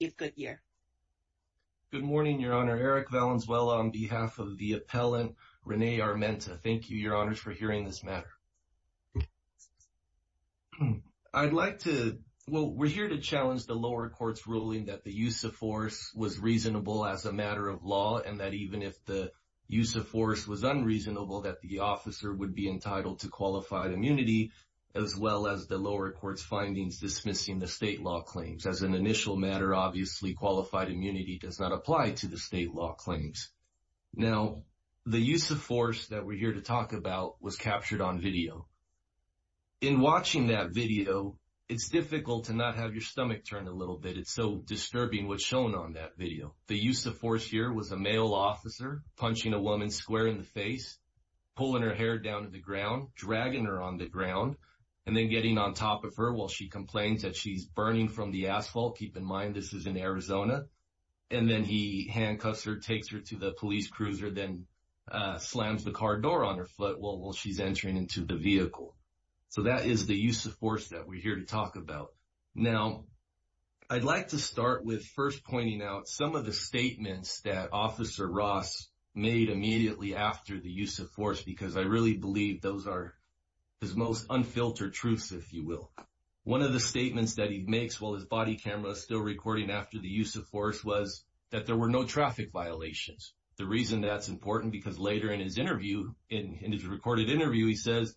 Good morning, Your Honor. Eric Valenzuela on behalf of the appellant, Renee Armenta. Thank you, Your Honors, for hearing this matter. I'd like to, well, we're here to challenge the lower court's ruling that the use of force was reasonable as a matter of law, and that even if the use of force was unreasonable, that the officer would be entitled to qualified immunity, as well as the lower court's findings dismissing the state law claims. As an initial matter, obviously, qualified immunity does not apply to the state law claims. Now, the use of force that we're here to talk about was captured on video. In watching that video, it's difficult to not have your stomach turn a little bit. It's so disturbing what's shown on that video. The use of force here was a male officer punching a woman square in the face, pulling her hair down to the ground, dragging her on the ground, and then getting on top of her while she complains that she's burning from the asphalt. Keep in mind, this is in Arizona. And then he handcuffs her, takes her to the police cruiser, then slams the car door on her foot while she's entering into the vehicle. So that is the use of force that we're here to talk about. Now, I'd like to start with first pointing out some of the statements that Officer Ross made immediately after the use of force, because I really believe those are his most unfiltered truths, if you will. One of the statements that he makes while his body camera is still recording after the use of force was that there were no traffic violations. The reason that's important, because later in his interview, in his recorded interview, he says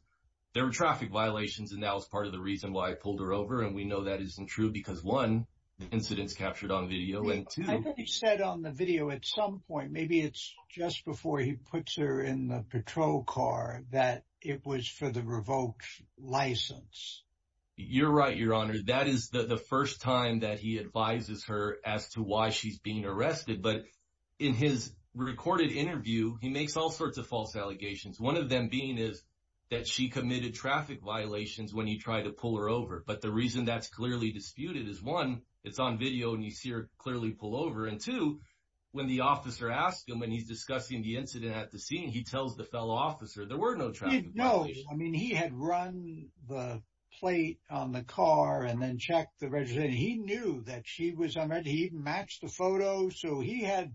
there were traffic violations, and that was part of the reason why I pulled her over. And we know that isn't true because, one, the incident's captured on video, and two- I think he said on the video at some point, maybe it's just before he puts her in the patrol car, that it was for the revoked license. You're right, Your Honor. That is the first time that he advises her as to why she's being arrested. But in his recorded interview, he makes all sorts of false allegations, one of them being that she committed traffic violations when he tried to pull her over. But the reason that's clearly disputed is, one, it's on video and you see her clearly pull over, and two, when the officer asks him when he's discussing the incident at the scene, he tells the fellow officer there were no traffic violations. He knows. I mean, he had run the plate on the car and then checked the registration. He knew that she was unarmed. He even matched the photo. So he had-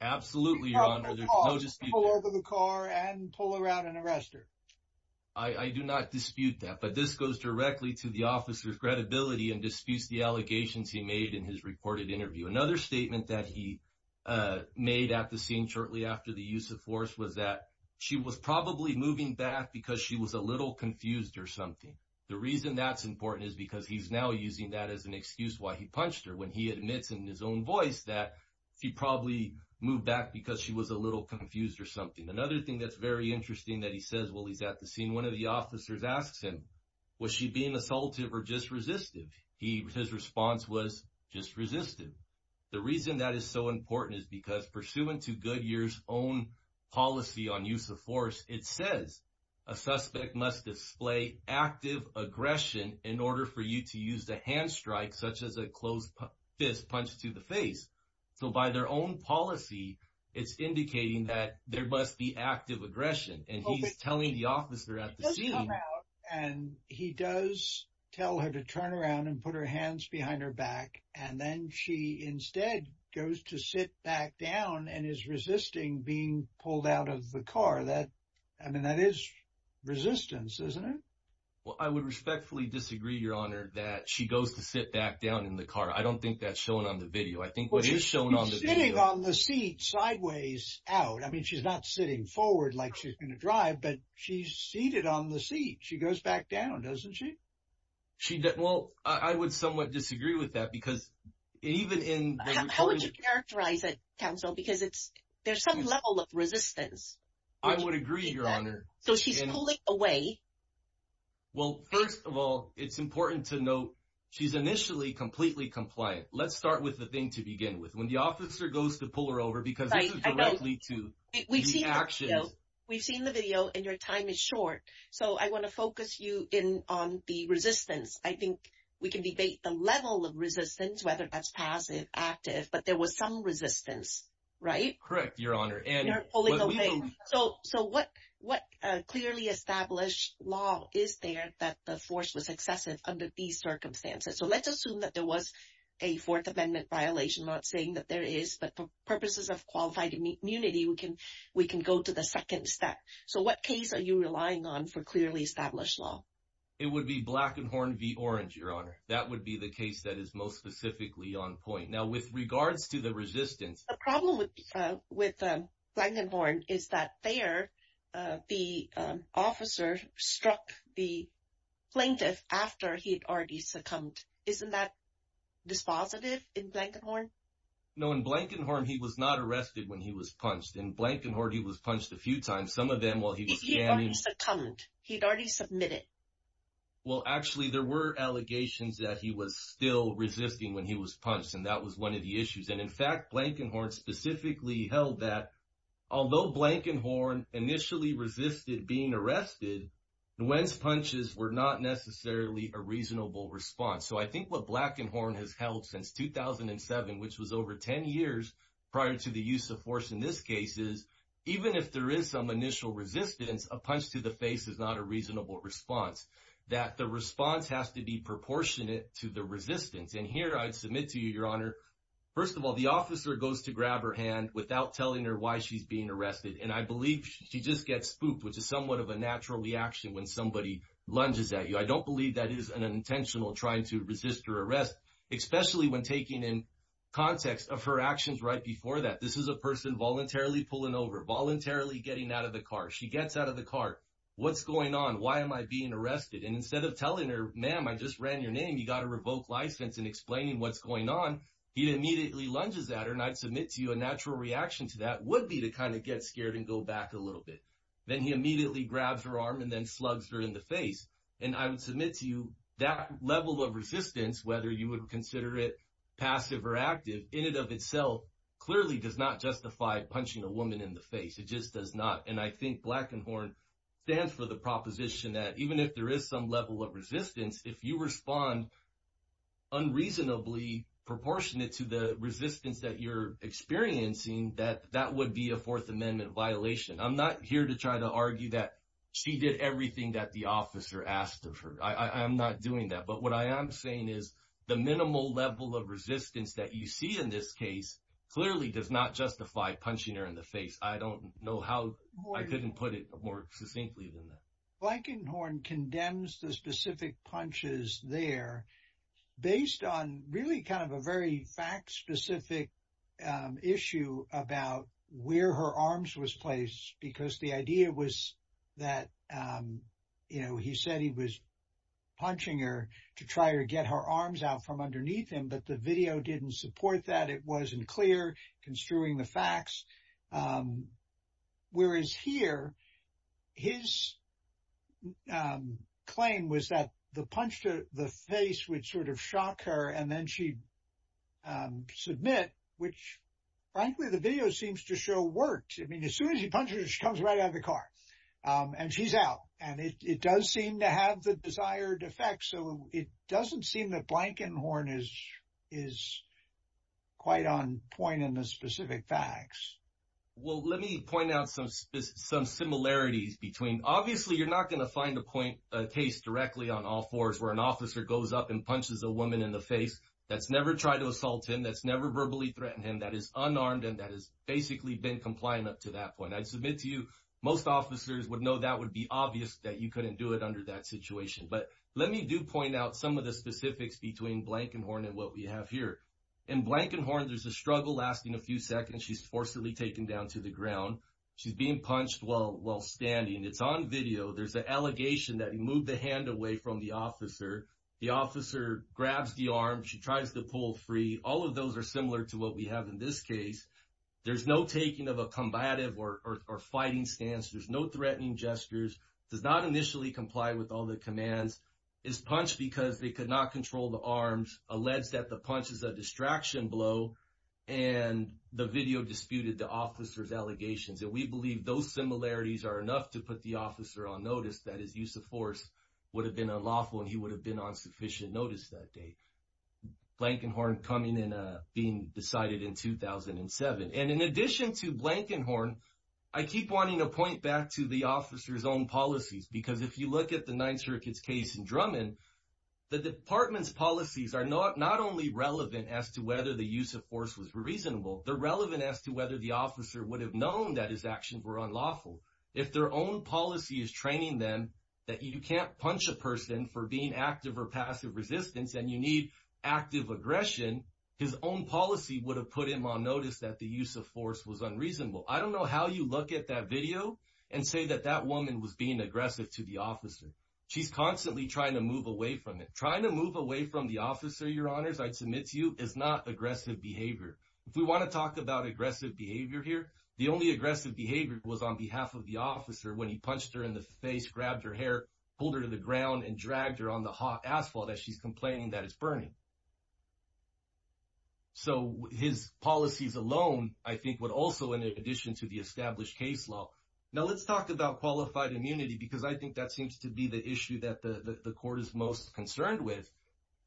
Absolutely, Your Honor. There's no dispute. Pulled over the car and pull her out and arrest her. I do not dispute that. But this goes directly to the officer's credibility and disputes the that he made at the scene shortly after the use of force was that she was probably moving back because she was a little confused or something. The reason that's important is because he's now using that as an excuse why he punched her when he admits in his own voice that she probably moved back because she was a little confused or something. Another thing that's very interesting that he says while he's at the scene, one of the officers asks him, was she being assaultive or just resistive? His response was just resistive. The reason that is so important is because pursuant to Goodyear's own policy on use of force, it says a suspect must display active aggression in order for you to use the hand strike such as a closed fist punched to the face. So by their own policy, it's indicating that there must be active aggression. And he's telling the officer at the hands behind her back. And then she instead goes to sit back down and is resisting being pulled out of the car that I mean, that is resistance, isn't it? Well, I would respectfully disagree, Your Honor, that she goes to sit back down in the car. I don't think that's shown on the video. I think what is shown on the sitting on the seat sideways out. I mean, she's not sitting forward like she's going to drive, but she's seated on the seat. She goes back down, doesn't she? Well, I would somewhat disagree with that because even in- How would you characterize it, counsel? Because there's some level of resistance. I would agree, Your Honor. So she's pulling away. Well, first of all, it's important to note she's initially completely compliant. Let's start with the thing to begin with. When the officer goes to pull her over because this is directly to the action. We've seen the video and your time is short. So I want to focus you in on the resistance. I think we can debate the level of resistance, whether that's passive, active, but there was some resistance, right? Correct, Your Honor. So what clearly established law is there that the force was excessive under these circumstances? So let's assume that there was a Fourth Amendment violation, not saying that there is, but for we can go to the second step. So what case are you relying on for clearly established law? It would be Blankenhorn v. Orange, Your Honor. That would be the case that is most specifically on point. Now, with regards to the resistance- The problem with Blankenhorn is that there, the officer struck the plaintiff after he had already succumbed. Isn't that dispositive in Blankenhorn? No. In Blankenhorn, he was not punched a few times. Some of them while he was standing- He'd already succumbed. He'd already submitted. Well, actually, there were allegations that he was still resisting when he was punched, and that was one of the issues. And in fact, Blankenhorn specifically held that, although Blankenhorn initially resisted being arrested, Nguyen's punches were not necessarily a reasonable response. So I think what Blankenhorn has held since 2007, which was over 10 years prior to the use of force in this case, is even if there is some initial resistance, a punch to the face is not a reasonable response, that the response has to be proportionate to the resistance. And here, I'd submit to you, Your Honor, first of all, the officer goes to grab her hand without telling her why she's being arrested. And I believe she just gets spooked, which is somewhat of a natural reaction when somebody lunges at you. I don't believe that is an intentional trying to resist her arrest, especially when taking in context of her actions right before that. This is a person voluntarily pulling over, voluntarily getting out of the car. She gets out of the car. What's going on? Why am I being arrested? And instead of telling her, ma'am, I just ran your name, you got a revoked license, and explaining what's going on, he immediately lunges at her. And I'd submit to you a natural reaction to that would be to kind of get scared and go back a little bit. Then he immediately grabs her arm and then slugs her in the face. And I would submit to you that level of resistance, whether you would consider it clearly does not justify punching a woman in the face. It just does not. And I think Black and Horn stands for the proposition that even if there is some level of resistance, if you respond unreasonably proportionate to the resistance that you're experiencing, that that would be a Fourth Amendment violation. I'm not here to try to argue that she did everything that the officer asked of her. I'm not doing that. But what I am is the minimal level of resistance that you see in this case clearly does not justify punching her in the face. I don't know how I couldn't put it more succinctly than that. Black and Horn condemns the specific punches there based on really kind of a very fact-specific issue about where her arms was placed. Because the idea was that he said he was her arms out from underneath him, but the video didn't support that. It wasn't clear, construing the facts. Whereas here, his claim was that the punch to the face would sort of shock her and then she'd submit, which frankly, the video seems to show worked. I mean, as soon as he punches her, she comes right out of the car and she's out. And it does seem to have the desired effect. So it doesn't seem that Black and Horn is quite on point in the specific facts. Well, let me point out some similarities between, obviously, you're not going to find a case directly on all fours where an officer goes up and punches a woman in the face. That's never tried to assault him. That's never verbally threatened him. That is unarmed and that has basically been compliant up to that point. I'd submit to you, most officers would know that would be obvious that you couldn't do it under that situation. But let me do point out some of the specifics between Black and Horn and what we have here. In Black and Horn, there's a struggle lasting a few seconds. She's forcibly taken down to the ground. She's being punched while standing. It's on video. There's an allegation that he moved the hand away from the officer. The officer grabs the arm. She tries to pull free. All of those are similar to what we have in this case. There's no taking of combative or fighting stance. There's no threatening gestures. Does not initially comply with all the commands. Is punched because they could not control the arms. Alleges that the punch is a distraction blow. And the video disputed the officer's allegations. And we believe those similarities are enough to put the officer on notice that his use of force would have been unlawful and he would have been on sufficient notice that day. Blank and Horn coming in, being decided in 2007. And in addition to Blank and Horn, I keep wanting to point back to the officer's own policies. Because if you look at the Ninth Circuit's case in Drummond, the department's policies are not only relevant as to whether the use of force was reasonable, they're relevant as to whether the officer would have known that his actions were unlawful. If their own policy is training them that you can't punch a person for being active or passive resistance and you need active aggression, his own policy would have put him on notice that the use of force was unreasonable. I don't know how you look at that video and say that that woman was being aggressive to the officer. She's constantly trying to move away from it. Trying to move away from the officer, your honors, I'd submit to you, is not aggressive behavior. If we want to talk about aggressive behavior here, the only aggressive behavior was on behalf of the officer when he punched her in the face, grabbed her hair, pulled her to the ground, and dragged her on the hot asphalt as she's complaining that it's burning. So, his policies alone, I think, would also, in addition to the established case law... Now, let's talk about qualified immunity because I think that seems to be the issue that the court is most concerned with.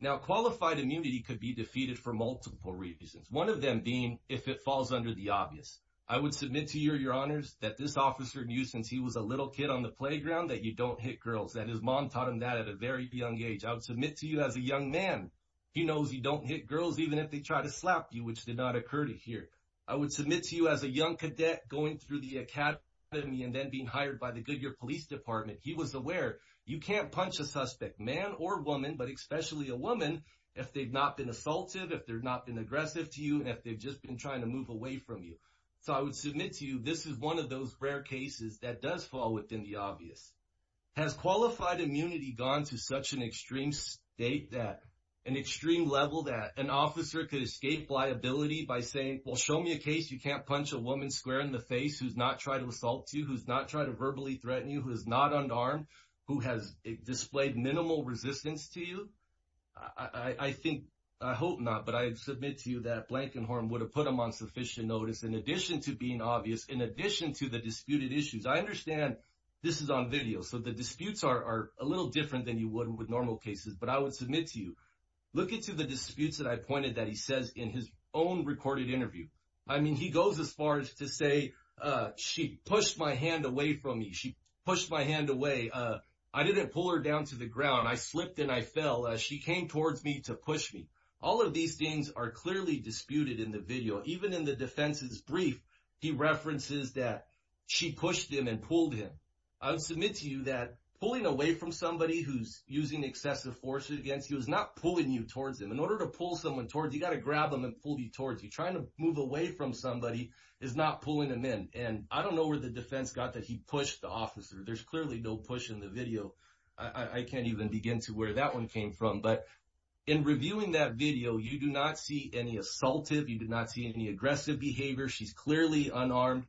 Now, qualified immunity could be defeated for multiple reasons, one of them being if it falls under the obvious. I would submit to you, your honors, that this that his mom taught him that at a very young age. I would submit to you, as a young man, he knows he don't hit girls even if they try to slap you, which did not occur to hear. I would submit to you, as a young cadet going through the academy and then being hired by the Goodyear Police Department, he was aware you can't punch a suspect, man or woman, but especially a woman, if they've not been assaultive, if they've not been aggressive to you, and if they've just been trying to move away from you. So, I would submit to you, this is one of those rare cases that does fall within the obvious. Has qualified immunity gone to such an extreme state that, an extreme level that an officer could escape liability by saying, well, show me a case you can't punch a woman square in the face who's not tried to assault you, who's not tried to verbally threaten you, who is not unarmed, who has displayed minimal resistance to you? I think, I hope not, but I submit to you that Blankenhorn would have put him on sufficient notice, in addition to being obvious, in addition to the disputed issues. I understand this is on video, so the disputes are a little different than you would with normal cases, but I would submit to you, look into the disputes that I pointed that he says in his own recorded interview. I mean, he goes as far as to say, she pushed my hand away from me. She pushed my hand away. I didn't pull her down to the ground. I slipped and I fell. She came towards me to push me. All of these things are clearly disputed in the video. Even in the defense's brief, he references that she pushed him and pulled him. I would submit to you that pulling away from somebody who's using excessive force against you is not pulling you towards them. In order to pull someone towards you, you got to grab them and pull you towards you. Trying to move away from somebody is not pulling them in. And I don't know where the defense got that he pushed the officer. There's clearly no push in the video. I can't even begin to where that one came from. But in reviewing that video, you do not see any assaultive. You did not see any aggressive behavior. She's clearly unarmed.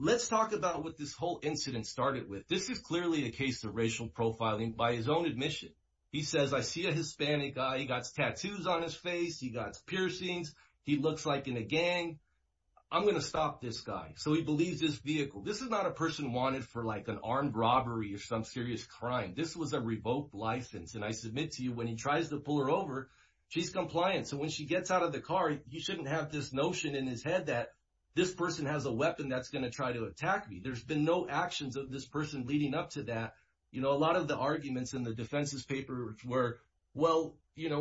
Let's talk about what this whole incident started with. This is clearly a case of racial profiling by his own admission. He says, I see a Hispanic guy. He got tattoos on his face. He got piercings. He looks like in a gang. I'm going to stop this guy. So he believes this vehicle. This is not a person wanted for like an armed robbery or some serious crime. This was a revoked license. And I submit to you, when he tries to pull her over, she's compliant. So when she gets out of the car, you shouldn't have this notion in his head that this person has a weapon that's going to try to attack me. There's been no actions of this person leading up to that. A lot of the arguments in the defense's paper were, well,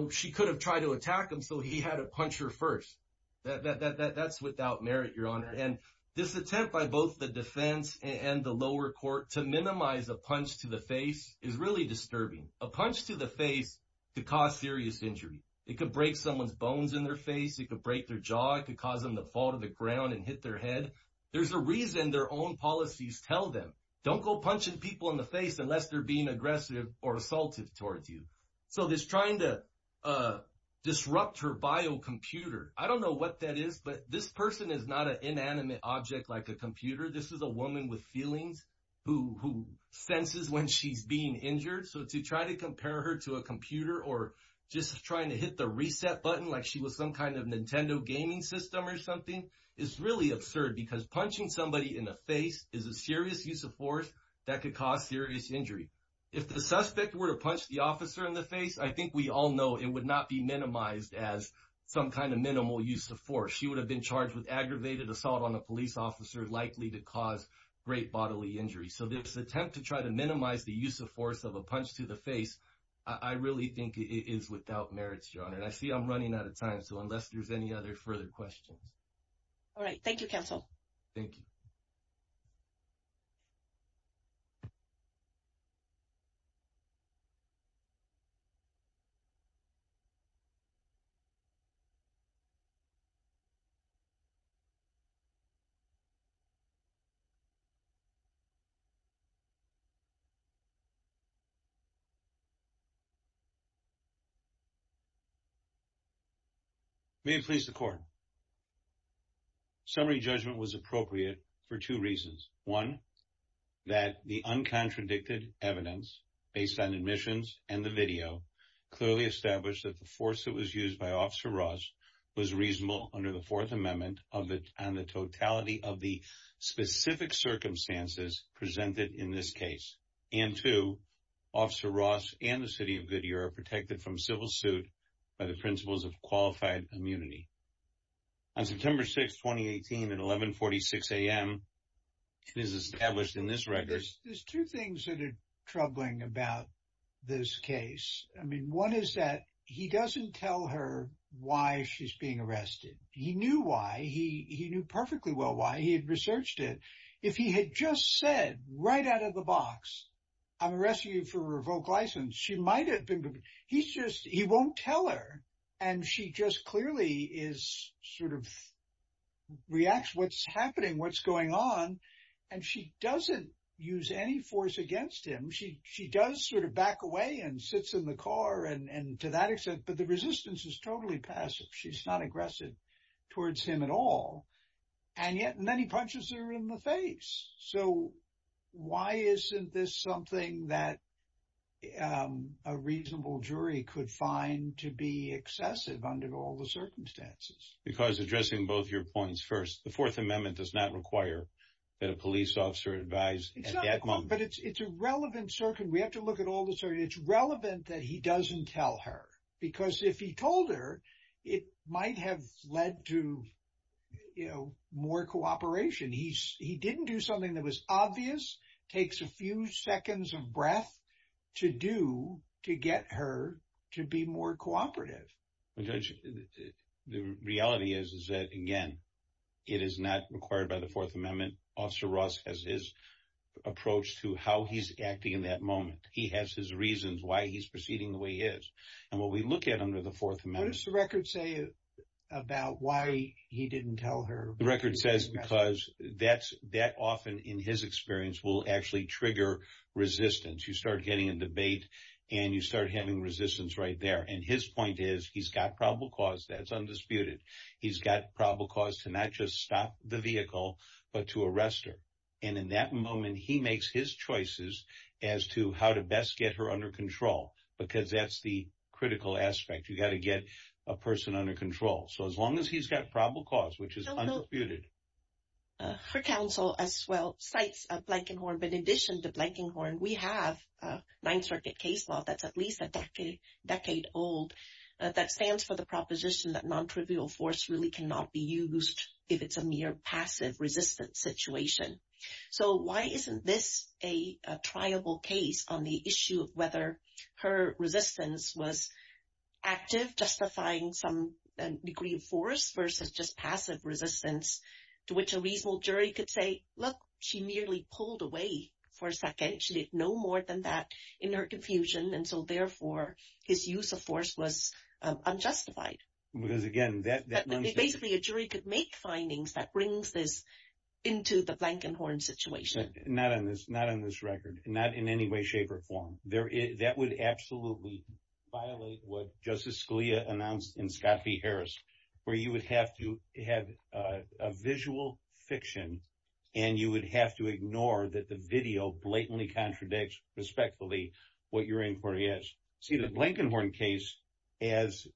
she could have tried to attack him, so he had to punch her first. That's without merit, Your Honor. And this attempt by both the defense and the lower court to minimize a punch to the face is really disturbing. A punch to the face could cause serious injury. It could break someone's bones in their face. It could break their jaw. It could cause them to fall to the ground and hit their head. There's a reason their own policies tell them, don't go punching people in the face unless they're being aggressive or assaultive towards you. So this trying to disrupt her bio computer, I don't know what that is, but this person is not an inanimate object like a computer. This is a woman with feelings who senses when she's being injured. So to try to compare her to a computer or just trying to hit the reset button like she was some kind of Nintendo gaming system or something is really absurd because punching somebody in the face is a serious use of force that could cause serious injury. If the suspect were to punch the officer in the face, I think we all know it would not be minimized as some kind of minimal use of force. She would have been charged with aggravated assault on a police officer likely to cause great bodily injury. So this attempt to try to minimize the use of force of a punch to the face, I really think it is without merits, Your Honor. And I see I'm running out of time. So unless there's any other further questions. All right. Thank you, counsel. Thank you. May it please the court. Summary judgment was appropriate for two reasons. One, that the uncontradicted evidence based on admissions and the video clearly established that the force that was used by Officer Ross was reasonable under the Fourth Amendment on the totality of the specific circumstances presented in this case. And two, Officer Ross and the city of Goodyear are protected from civil suit by the principles of qualified immunity. On September 6, 2018, at 1146 a.m., it is established in this record. There's two things that are troubling about this case. I mean, one is that he doesn't tell her why she's being arrested. He knew why. He knew perfectly well why. He had researched it. If he had just said right out of the box, I'm arresting you for a revoked license, he won't tell her. And she just clearly is sort of reacts to what's happening, what's going on. And she doesn't use any force against him. She does sort of back away and sits in the car and to that extent. But the resistance is totally passive. She's not aggressive towards him at all. And yet, and then he punches her in the face. So why isn't this something that a reasonable jury could find to be excessive under all the circumstances? Because addressing both your points first, the Fourth Amendment does not require that a police officer advise at that moment. But it's a relevant circuit. We have to look at all the circuit. It's relevant that he doesn't tell her. Because if he told her, it might have led to more cooperation. He didn't do something that was obvious, takes a few seconds of breath to do to get her to be more cooperative. The reality is that, again, it is not required by the Fourth Amendment. Officer Ross has his moment. He has his reasons why he's proceeding the way he is. And what we look at under the Fourth Amendment. What does the record say about why he didn't tell her? The record says because that often, in his experience, will actually trigger resistance. You start getting a debate and you start having resistance right there. And his point is he's got probable cause that's undisputed. He's got probable cause to not just stop the vehicle, but to arrest her. And in that moment, he makes his choices as to how to best get her under control, because that's the critical aspect. You've got to get a person under control. So as long as he's got probable cause, which is undisputed. Her counsel, as well, cites Blankenhorn. But in addition to Blankenhorn, we have Ninth Circuit case law that's at least a decade old that stands for the proposition that resistance situation. So why isn't this a triable case on the issue of whether her resistance was active, justifying some degree of force versus just passive resistance to which a reasonable jury could say, look, she merely pulled away for a second. She did no more than that in her confusion. And so therefore, his use of force was unjustified. Because again, that basically a jury could make findings that brings this into the Blankenhorn situation. Not on this record, not in any way, shape or form. That would absolutely violate what Justice Scalia announced in Scott v. Harris, where you would have to have a visual fiction and you would have to ignore that the video blatantly contradicts respectfully what your inquiry is. See, the Blankenhorn case as...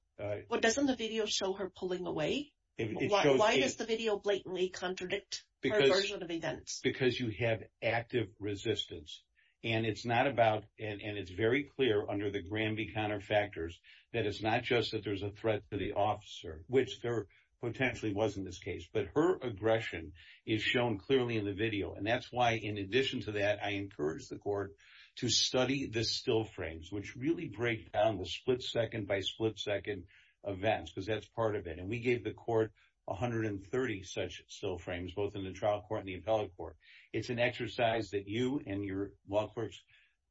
Doesn't the video show her pulling away? Why does the video blatantly contradict her version of events? Because you have active resistance. And it's not about... And it's very clear under the Granby counterfactors that it's not just that there's a threat to the officer, which there potentially was in this case, but her aggression is shown clearly in the video. And that's why, in addition to that, I encourage the court to study the still frames, which really break down the split second by split second events, because that's part of it. And we gave the court 130 such still frames, both in the trial court and the appellate court. It's an exercise that you and your law courts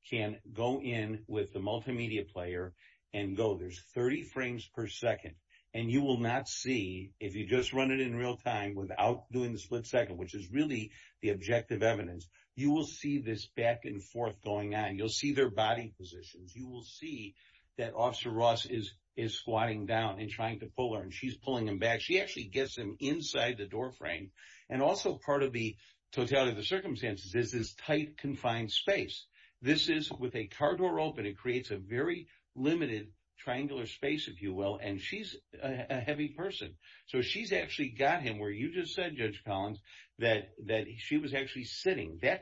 can go in with the multimedia player and go, there's 30 frames per second. And you will not see, if you just run it in real time without doing the split second, which is really the objective evidence, you will see this back and forth going on. You'll see their body positions. You will see that Officer Ross is squatting down and trying to pull her, and she's pulling him back. She actually gets him inside the doorframe. And also part of the totality of the circumstances is this tight, confined space. This is with a car door open, it creates a very limited triangular space, if you will. And she's a heavy person. So she's actually got him where you just said, Judge That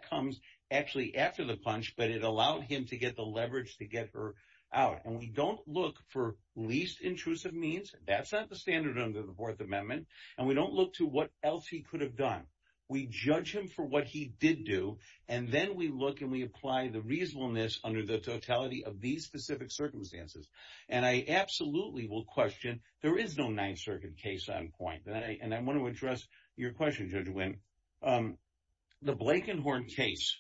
comes actually after the punch, but it allowed him to get the leverage to get her out. And we don't look for least intrusive means. That's not the standard under the Fourth Amendment. And we don't look to what else he could have done. We judge him for what he did do. And then we look and we apply the reasonableness under the totality of these specific circumstances. And I absolutely will question, there is no Ninth Circuit case on point. And I want to address your question, Judge Winn. The Blakenhorn case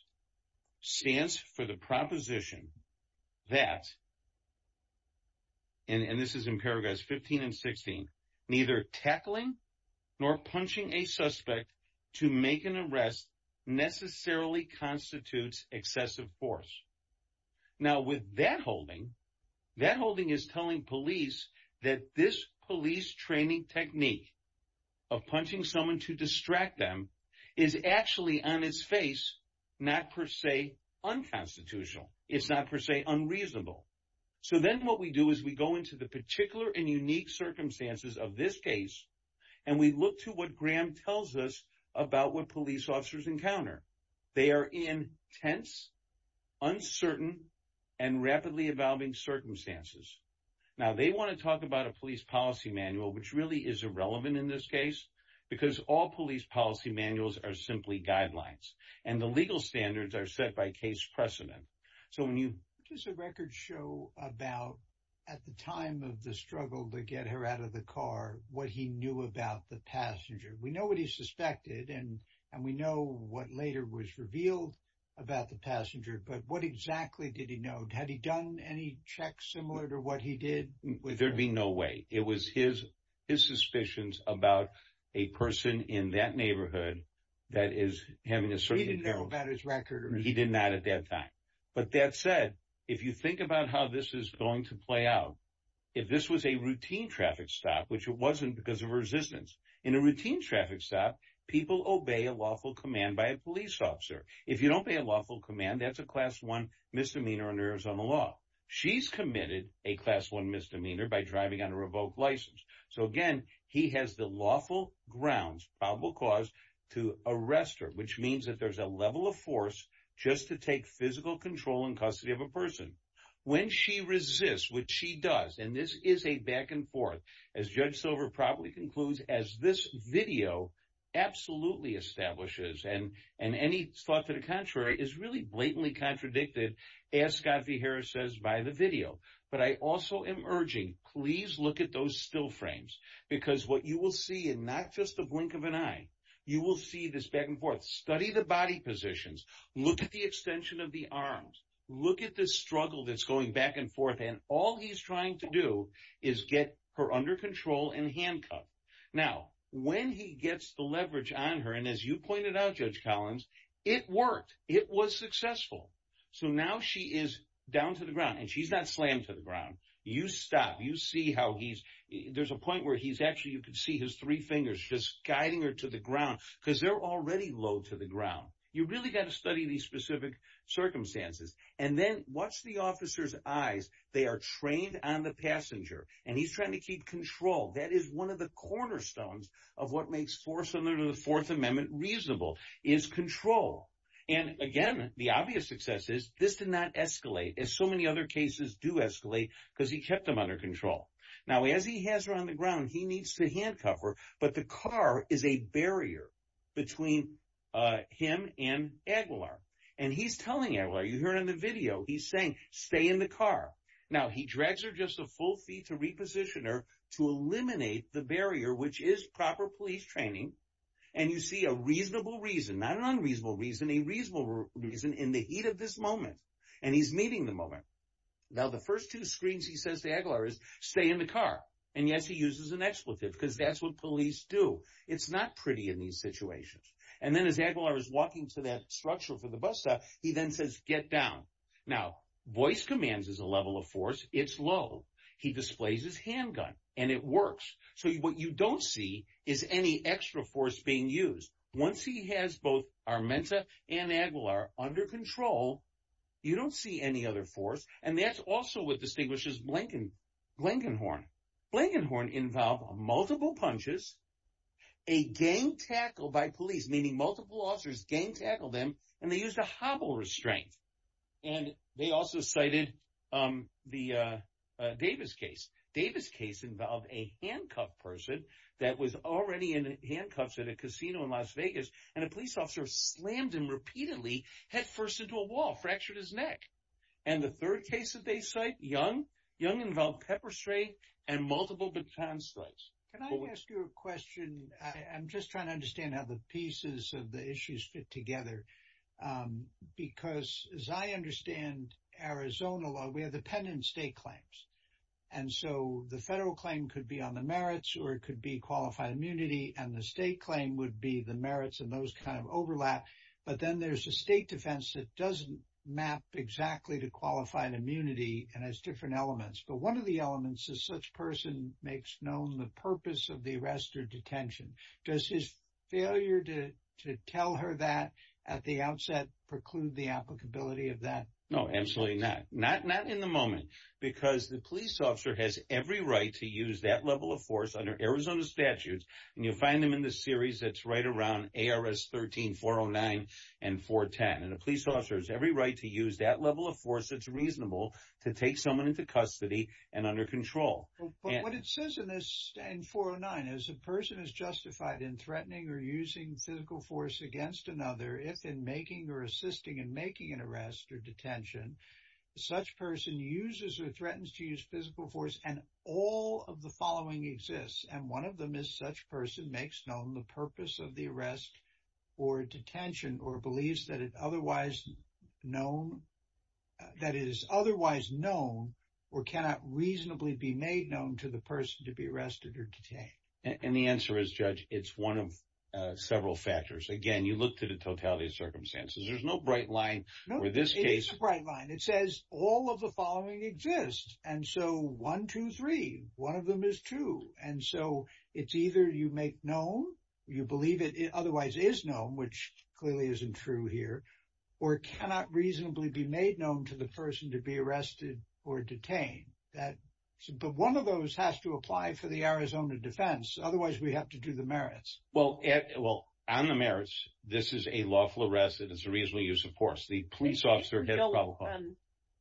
stands for the proposition that, and this is in paragraphs 15 and 16, neither tackling nor punching a suspect to make an arrest necessarily constitutes excessive force. Now with that holding, that holding is telling police that this police training technique of punching someone to distract them is actually on its face, not per se, unconstitutional. It's not per se unreasonable. So then what we do is we go into the particular and unique circumstances of this case. And we look to what Graham tells us about what police officers encounter. They are in tense, uncertain, and rapidly evolving circumstances. Now they want to talk about a because all police policy manuals are simply guidelines. And the legal standards are set by case precedent. So when you- Does the record show about at the time of the struggle to get her out of the car what he knew about the passenger? We know what he suspected and we know what later was revealed about the passenger. But what exactly did he know? Had he done any checks similar to he did? There'd be no way. It was his suspicions about a person in that neighborhood that is having a certain- He didn't know about his record? He did not at that time. But that said, if you think about how this is going to play out, if this was a routine traffic stop, which it wasn't because of resistance. In a routine traffic stop, people obey a lawful command by a police officer. If you don't obey a lawful command, that's a class one misdemeanor under Arizona law. She's committed a class one misdemeanor by driving on a revoked license. So again, he has the lawful grounds, probable cause, to arrest her, which means that there's a level of force just to take physical control in custody of a person. When she resists, which she does, and this is a back and forth, as Judge Silver probably concludes, as this video absolutely establishes and any thought to the contrary is really blatantly contradicted, as Scott V. Harris says by the video. But I also am urging, please look at those still frames because what you will see, and not just the blink of an eye, you will see this back and forth. Study the body positions. Look at the extension of the arms. Look at the struggle that's going back and forth. And all he's trying to do is get her under control and handcuffed. Now, when he gets the leverage on her, as you pointed out, Judge Collins, it worked. It was successful. So now she is down to the ground, and she's not slammed to the ground. You stop. You see how he's, there's a point where he's actually, you could see his three fingers just guiding her to the ground because they're already low to the ground. You really got to study these specific circumstances. And then watch the officer's eyes. They are trained on the passenger, and he's trying to keep control. That is one of the cornerstones of what makes force under the Fourth Amendment reasonable, is control. And again, the obvious success is this did not escalate as so many other cases do escalate because he kept them under control. Now, as he has her on the ground, he needs to handcuff her, but the car is a barrier between him and Aguilar. And he's telling Aguilar, you hear in the video, he's saying stay in the car. Now, he drags her just a full feet to reposition her to eliminate the barrier, which is proper police training. And you see a reasonable reason, not an unreasonable reason, a reasonable reason in the heat of this moment. And he's meeting the moment. Now, the first two screens he says to Aguilar is stay in the car. And yes, he uses an expletive because that's what police do. It's not pretty in these situations. And then as Aguilar is walking to that structure he then says get down. Now, voice commands is a level of force. It's low. He displays his handgun and it works. So what you don't see is any extra force being used. Once he has both Armenta and Aguilar under control, you don't see any other force. And that's also what distinguishes Blankenhorn. Blankenhorn involve multiple punches, a gang tackle by police, meaning multiple officers gang tackle them, and they used a hobble restraint. And they also cited the Davis case. Davis case involved a handcuffed person that was already in handcuffs at a casino in Las Vegas, and a police officer slammed him repeatedly, head first into a wall, fractured his neck. And the third case that they cite, Young, Young involved pepper spray and multiple baton slaps. Can I ask you a question? I'm just trying to understand how the pieces of the issues fit together. Because as I understand Arizona law, we have dependent state claims. And so the federal claim could be on the merits or it could be qualified immunity. And the state claim would be the merits and those kind of overlap. But then there's a state defense that doesn't map exactly to qualified immunity and has different elements. But one of the elements is such person makes known the purpose of the arrest or detention. Does his failure to tell her that at the outset preclude the applicability of that? No, absolutely not. Not not in the moment, because the police officer has every right to use that level of force under Arizona statutes. And you'll find them in the series that's right around ARS 13 409 and 410. And a police officer has every right to use that level of force that's reasonable to take someone into custody and under control. But what it says in 409 is a person is justified in threatening or using physical force against another if in making or assisting in making an arrest or detention. Such person uses or threatens to use physical force. And all of the following exists. And one of them is such person makes known the purpose of the arrest or detention or believes that it is otherwise known or cannot reasonably be made known to the person to be arrested or detained. And the answer is, Judge, it's one of several factors. Again, you look to the totality of circumstances. There's no bright line for this case. It's a bright line. It says all of the following exists. And so one, two, three, one of them is true. And so it's either you make known you believe it otherwise is known, which clearly isn't true here, or cannot reasonably be made known to the person to be arrested or detained. But one of those has to apply for the Arizona defense. Otherwise, we have to do the merits. Well, on the merits, this is a lawful arrest. It is a reasonable use of force. The police officer had a problem.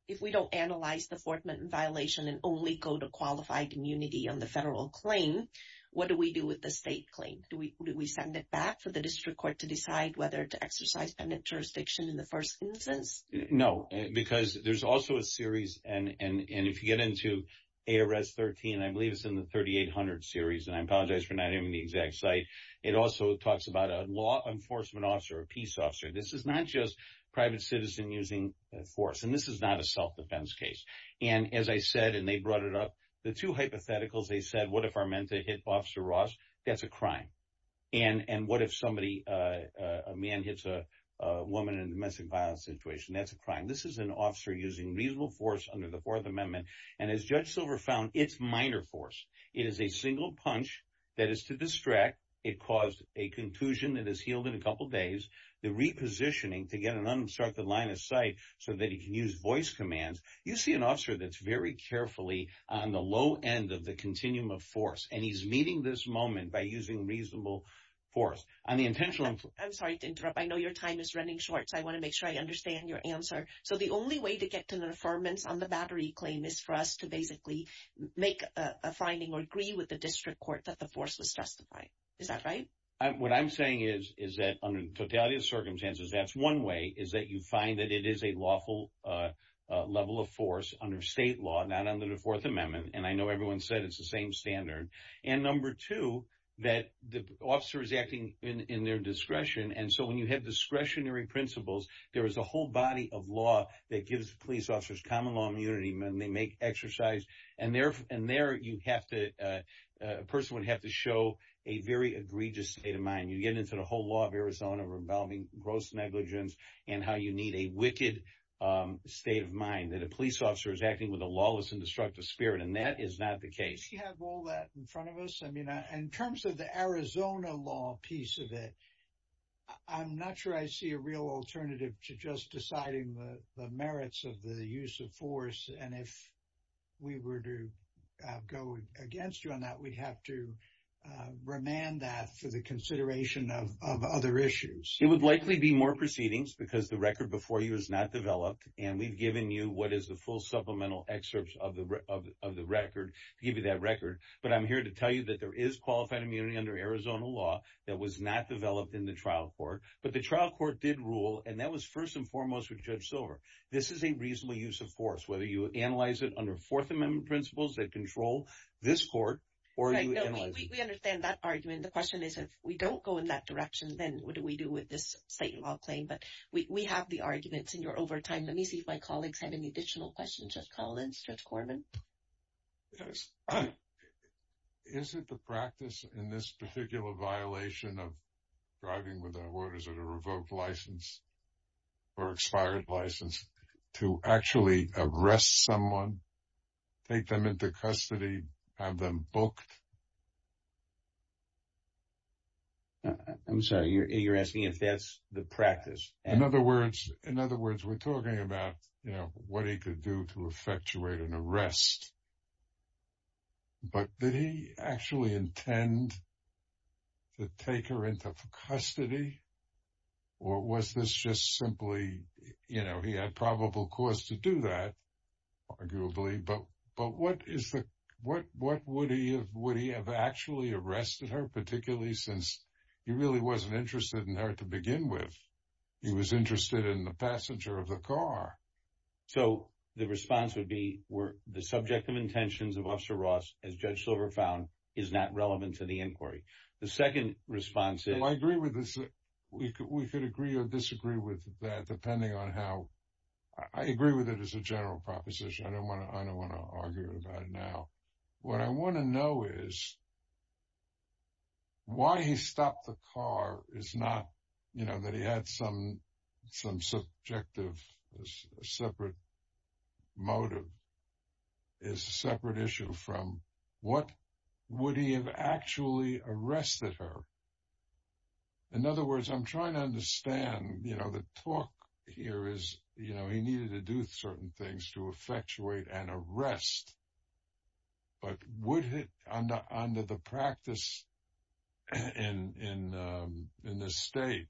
If we don't analyze the Fort Minton violation and only go to qualified immunity on the federal claim, what do we do with the state claim? Do we send it back for the district court to decide whether to exercise jurisdiction in the first instance? No, because there's also a series. And if you get into ARS 13, I believe it's in the 3800 series. And I apologize for not having the exact site. It also talks about a law enforcement officer, a peace officer. This is not just private citizen using force. And this is not a self-defense case. And as I said, and they brought it up, the two hypotheticals they said, what if Armenta hit Officer Ross? That's a crime. And what if a man hits a woman in a domestic violence situation? That's a crime. This is an officer using reasonable force under the Fourth Amendment. And as Judge Silver found, it's minor force. It is a single punch that is to distract. It caused a contusion that is healed in a couple days. The repositioning to get an unobstructed line of sight so that he can use voice commands. You see an officer that's very carefully on the low end of the continuum of force. And he's meeting this moment by using reasonable force. I'm sorry to interrupt. I know your time is running short. So I want to make sure I understand your answer. So the only way to get to the affirmance on the battery claim is for us to basically make a finding or agree with the district court that the force was justified. Is that right? What I'm saying is, is that under totality of circumstances, that's one way is that you find that it is a lawful level of force under state law, not under the Fourth Amendment. And I know everyone said it's the same standard. And number two, that the officer is acting in their discretion. And so when you have discretionary principles, there is a whole body of law that gives police officers common law immunity when they make exercise. And therefore, and there you have to a person would have to show a very egregious state of mind. You get into the whole law of Arizona, rebelling, gross negligence, and how you need a wicked state of mind that a police officer is acting with a lawless and front of us. I mean, in terms of the Arizona law piece of it, I'm not sure I see a real alternative to just deciding the merits of the use of force. And if we were to go against you on that, we'd have to remand that for the consideration of other issues. It would likely be more proceedings because the record before you is not developed. And we've given you what to tell you that there is qualified immunity under Arizona law that was not developed in the trial court. But the trial court did rule. And that was first and foremost with Judge Silver. This is a reasonable use of force, whether you analyze it under Fourth Amendment principles that control this court or we understand that argument. The question is, if we don't go in that direction, then what do we do with this state law claim? But we have the arguments in your overtime. Let me see if my colleagues have any additional questions. Just call in stretch for me. Yes. Is it the practice in this particular violation of driving without orders at a revoked license or expired license to actually arrest someone, take them into custody, have them booked? I'm sorry, you're asking if that's the practice. In other words, we're talking about what he could do to effectuate an arrest. But did he actually intend to take her into custody? Or was this just simply he had probable cause to do that, arguably. But what would he have actually arrested her, particularly since he really wasn't interested in her to begin with. He was interested in the passenger of the car. So the response would be the subject of intentions of Officer Ross, as Judge Silver found, is not relevant to the inquiry. The second response is. I agree with this. We could agree or disagree with that, depending on how I agree with it as a general proposition. I don't want to argue about it now. What I want to know is why he stopped the car is not that he had some subjective separate motive. It's a separate issue from what would he have actually arrested her. In other words, I'm trying to understand the talk here is he needed to do certain things to effectuate an arrest. But would under the practice in the state,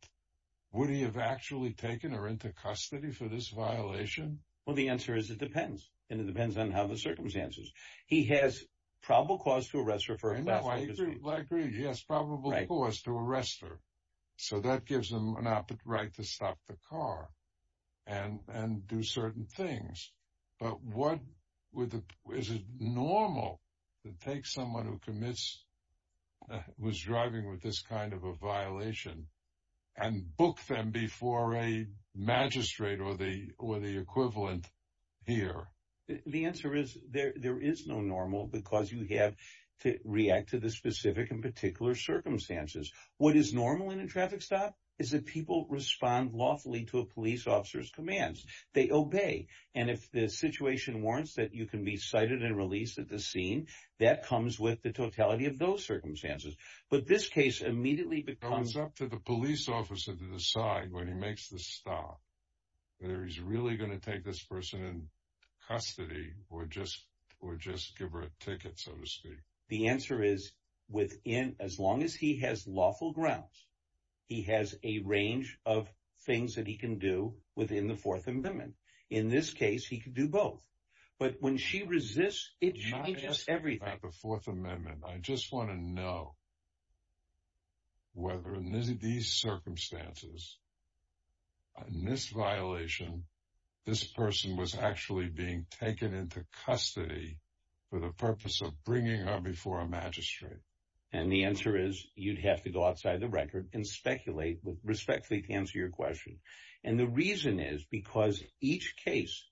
would he have actually taken her into custody for this violation? Well, the answer is it depends. And it depends on how the circumstances. He has probable cause to arrest her. I agree. He has probable cause to arrest her. Is it normal to take someone who was driving with this kind of a violation and book them before a magistrate or the equivalent here? The answer is there is no normal because you have to react to the specific and particular circumstances. What is normal in a traffic stop is that people respond lawfully to a police officer's commands. They obey. And if the situation warrants that you can be cited and released at the scene, that comes with the totality of those circumstances. But this case immediately becomes up to the police officer to decide when he makes the stop, whether he's really going to take this person in custody or just or just give her a ticket, so to speak. The answer is within as long as he has lawful grounds, he has a range of things that he can do within the Fourth Amendment. In this case, he could do both. But when she resists, it changes everything. The Fourth Amendment. I just want to know. Whether in these circumstances. In this violation, this person was actually being taken into custody for the purpose of bringing her before a magistrate. And the answer is you'd have to go outside the record and speculate with respectfully to answer your question. And the reason is because each case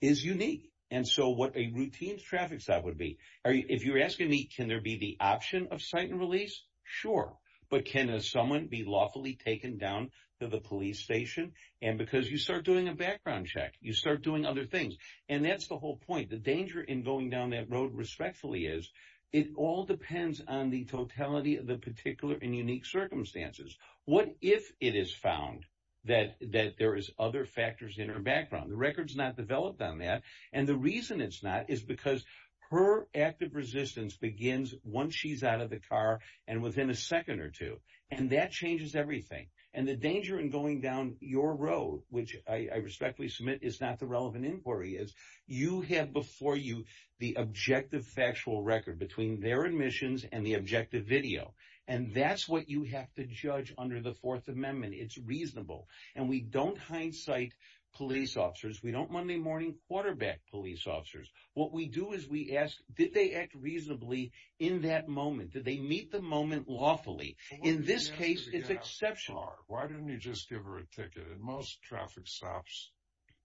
is unique. And so what a routine traffic stop would be. If you're asking me, can there be the option of site and release? Sure. But can someone be lawfully taken down to the police station? And because you start doing a background check, you start doing other things. And that's the whole point. The danger in going down that road respectfully is it all depends on the totality of the particular and unique circumstances. What if it is found that that there is other factors in her background? The record is not developed on that. And the reason it's not is because her active resistance begins once she's out of the car and within a second or two. And that changes everything. And the danger in going down your road, which I respectfully submit is not the relevant inquiry, is you have before you the objective factual record between their admissions and the objective video. And that's you have to judge under the Fourth Amendment. It's reasonable. And we don't hindsight police officers. We don't Monday morning quarterback police officers. What we do is we ask, did they act reasonably in that moment? Did they meet the moment lawfully? In this case, it's exceptional. Why don't you just give her a ticket? And most traffic stops.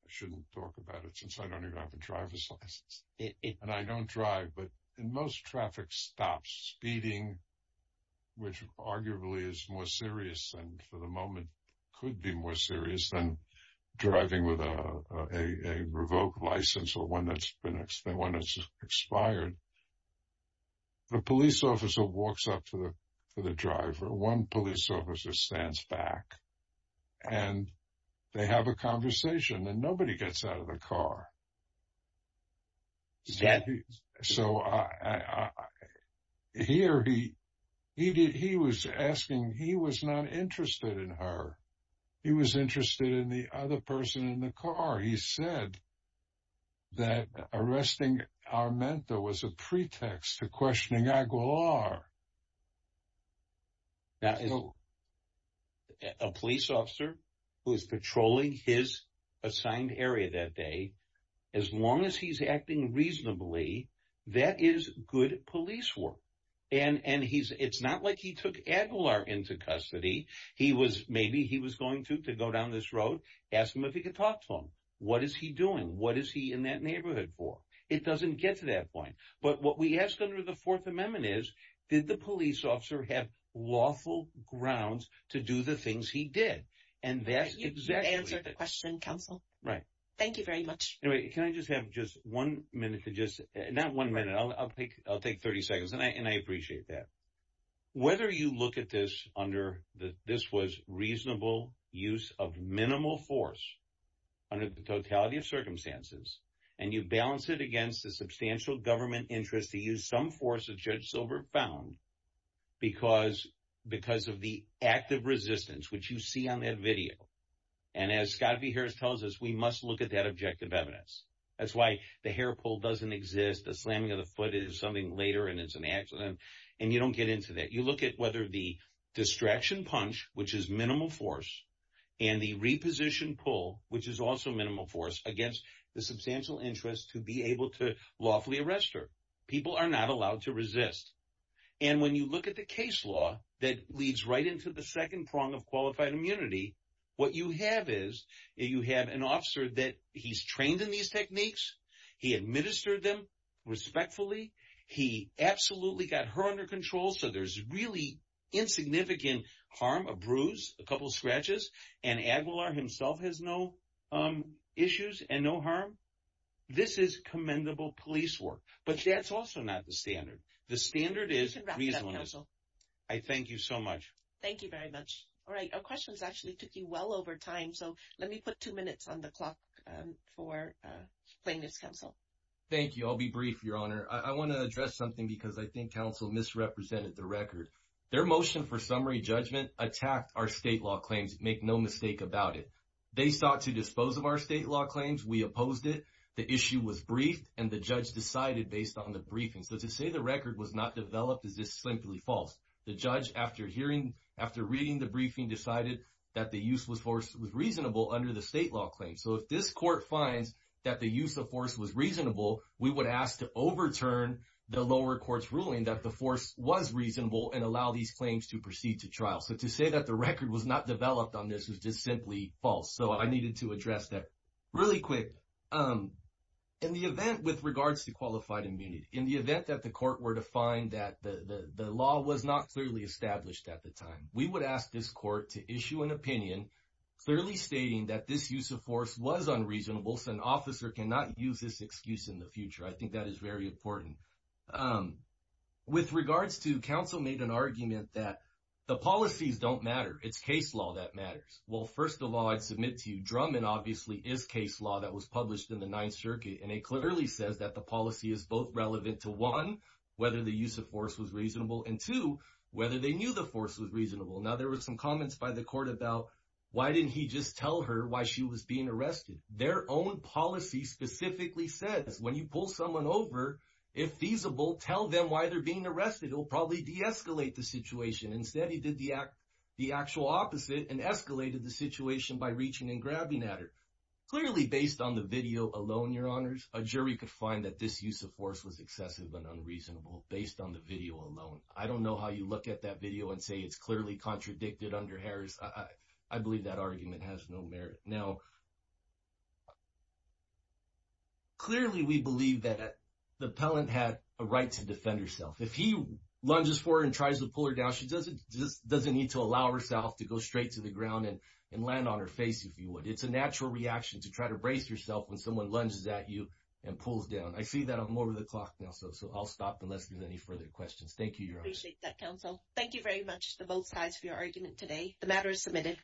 I shouldn't talk about it since I don't even have a driver's license and I don't drive. But in most traffic stops speeding, which arguably is more serious and for the moment could be more serious than driving with a revoked license or one that's been the one that's expired. The police officer walks up to the driver, one police officer stands back and they have a conversation and nobody gets out of the car. Is that so? I hear he he did. He was asking. He was not interested in her. He was interested in the other person in the car. He said that arresting our mentor was a pretext to questioning Aguilar. That is a police officer who is patrolling his assigned area that day. As long as he's acting reasonably, that is good police work. And and he's it's not like he took Aguilar into custody. He was maybe he was going to to go down this road, ask him if he could talk to him. What is he doing? What is he in that neighborhood for? It doesn't get to that point. But what we asked under the Fourth Amendment is, did the police officer have lawful grounds to do the things he did? And that's exactly the question. Counsel. Right. Thank you very much. Can I just have just one minute to just not one minute. I'll take I'll take 30 seconds and I appreciate that. Whether you look at this under the this was reasonable use of minimal force under the totality of circumstances and you balance it against the substantial government interest to use some force of Judge Silbert found because because of the active resistance, which you see on that video. And as Scott V. Harris tells us, we must look at that objective evidence. That's why the hair pull doesn't exist. The slamming of the foot is something later and it's an accident. And you don't get into that. You look at whether the distraction punch, which is minimal force and the reposition pull, which is also minimal force against the substantial interest to be able to lawfully arrest her. People are not allowed to resist. And when you look at the case law that leads right into the second prong of qualified immunity, what you have is you have an officer that he's trained in these techniques. He administered them respectfully. He absolutely got her under control. So there's really insignificant harm, a bruise, a couple of scratches, and Aguilar himself has no issues and no harm. This is commendable police work, but that's also not the standard. The standard is reasonable. I thank you so much. Thank you very much. All right. Our questions actually took you well over time. So let me put two minutes on the clock for plaintiff's counsel. Thank you. I'll be brief, Your Honor. I want to address something because I think misrepresented the record. Their motion for summary judgment attacked our state law claims. Make no mistake about it. They sought to dispose of our state law claims. We opposed it. The issue was briefed and the judge decided based on the briefing. So to say the record was not developed is just simply false. The judge, after reading the briefing, decided that the use was reasonable under the state law claim. So if this court finds that the use of force was reasonable, we would ask to overturn the lower court's ruling that the force was reasonable and allow these claims to proceed to trial. So to say that the record was not developed on this was just simply false. So I needed to address that really quick. In the event with regards to qualified immunity, in the event that the court were to find that the law was not clearly established at the time, we would ask this court to issue an opinion clearly stating that this use of force was reasonable. I think that is very important. With regards to counsel made an argument that the policies don't matter. It's case law that matters. Well, first of all, I'd submit to you, Drummond obviously is case law that was published in the Ninth Circuit, and it clearly says that the policy is both relevant to one, whether the use of force was reasonable, and two, whether they knew the force was reasonable. Now, there were some comments by the court about why didn't he just tell her why she was being arrested? Their own policy specifically says when you pull someone over, if feasible, tell them why they're being arrested. It'll probably deescalate the situation. Instead, he did the actual opposite and escalated the situation by reaching and grabbing at her. Clearly based on the video alone, your honors, a jury could find that this use of force was excessive and unreasonable based on the video alone. I don't know how you look at that video and say it's clearly contradicted under Harris. I believe that argument has no merit. Now, clearly we believe that the appellant had a right to defend herself. If he lunges for her and tries to pull her down, she doesn't need to allow herself to go straight to the ground and land on her face if you would. It's a natural reaction to try to brace yourself when someone lunges at you and pulls down. I see that I'm over the clock now, so I'll stop unless there's any further questions. Thank you, your honors. Appreciate that, counsel. Thank you very much to both sides for your argument today. The matter is submitted.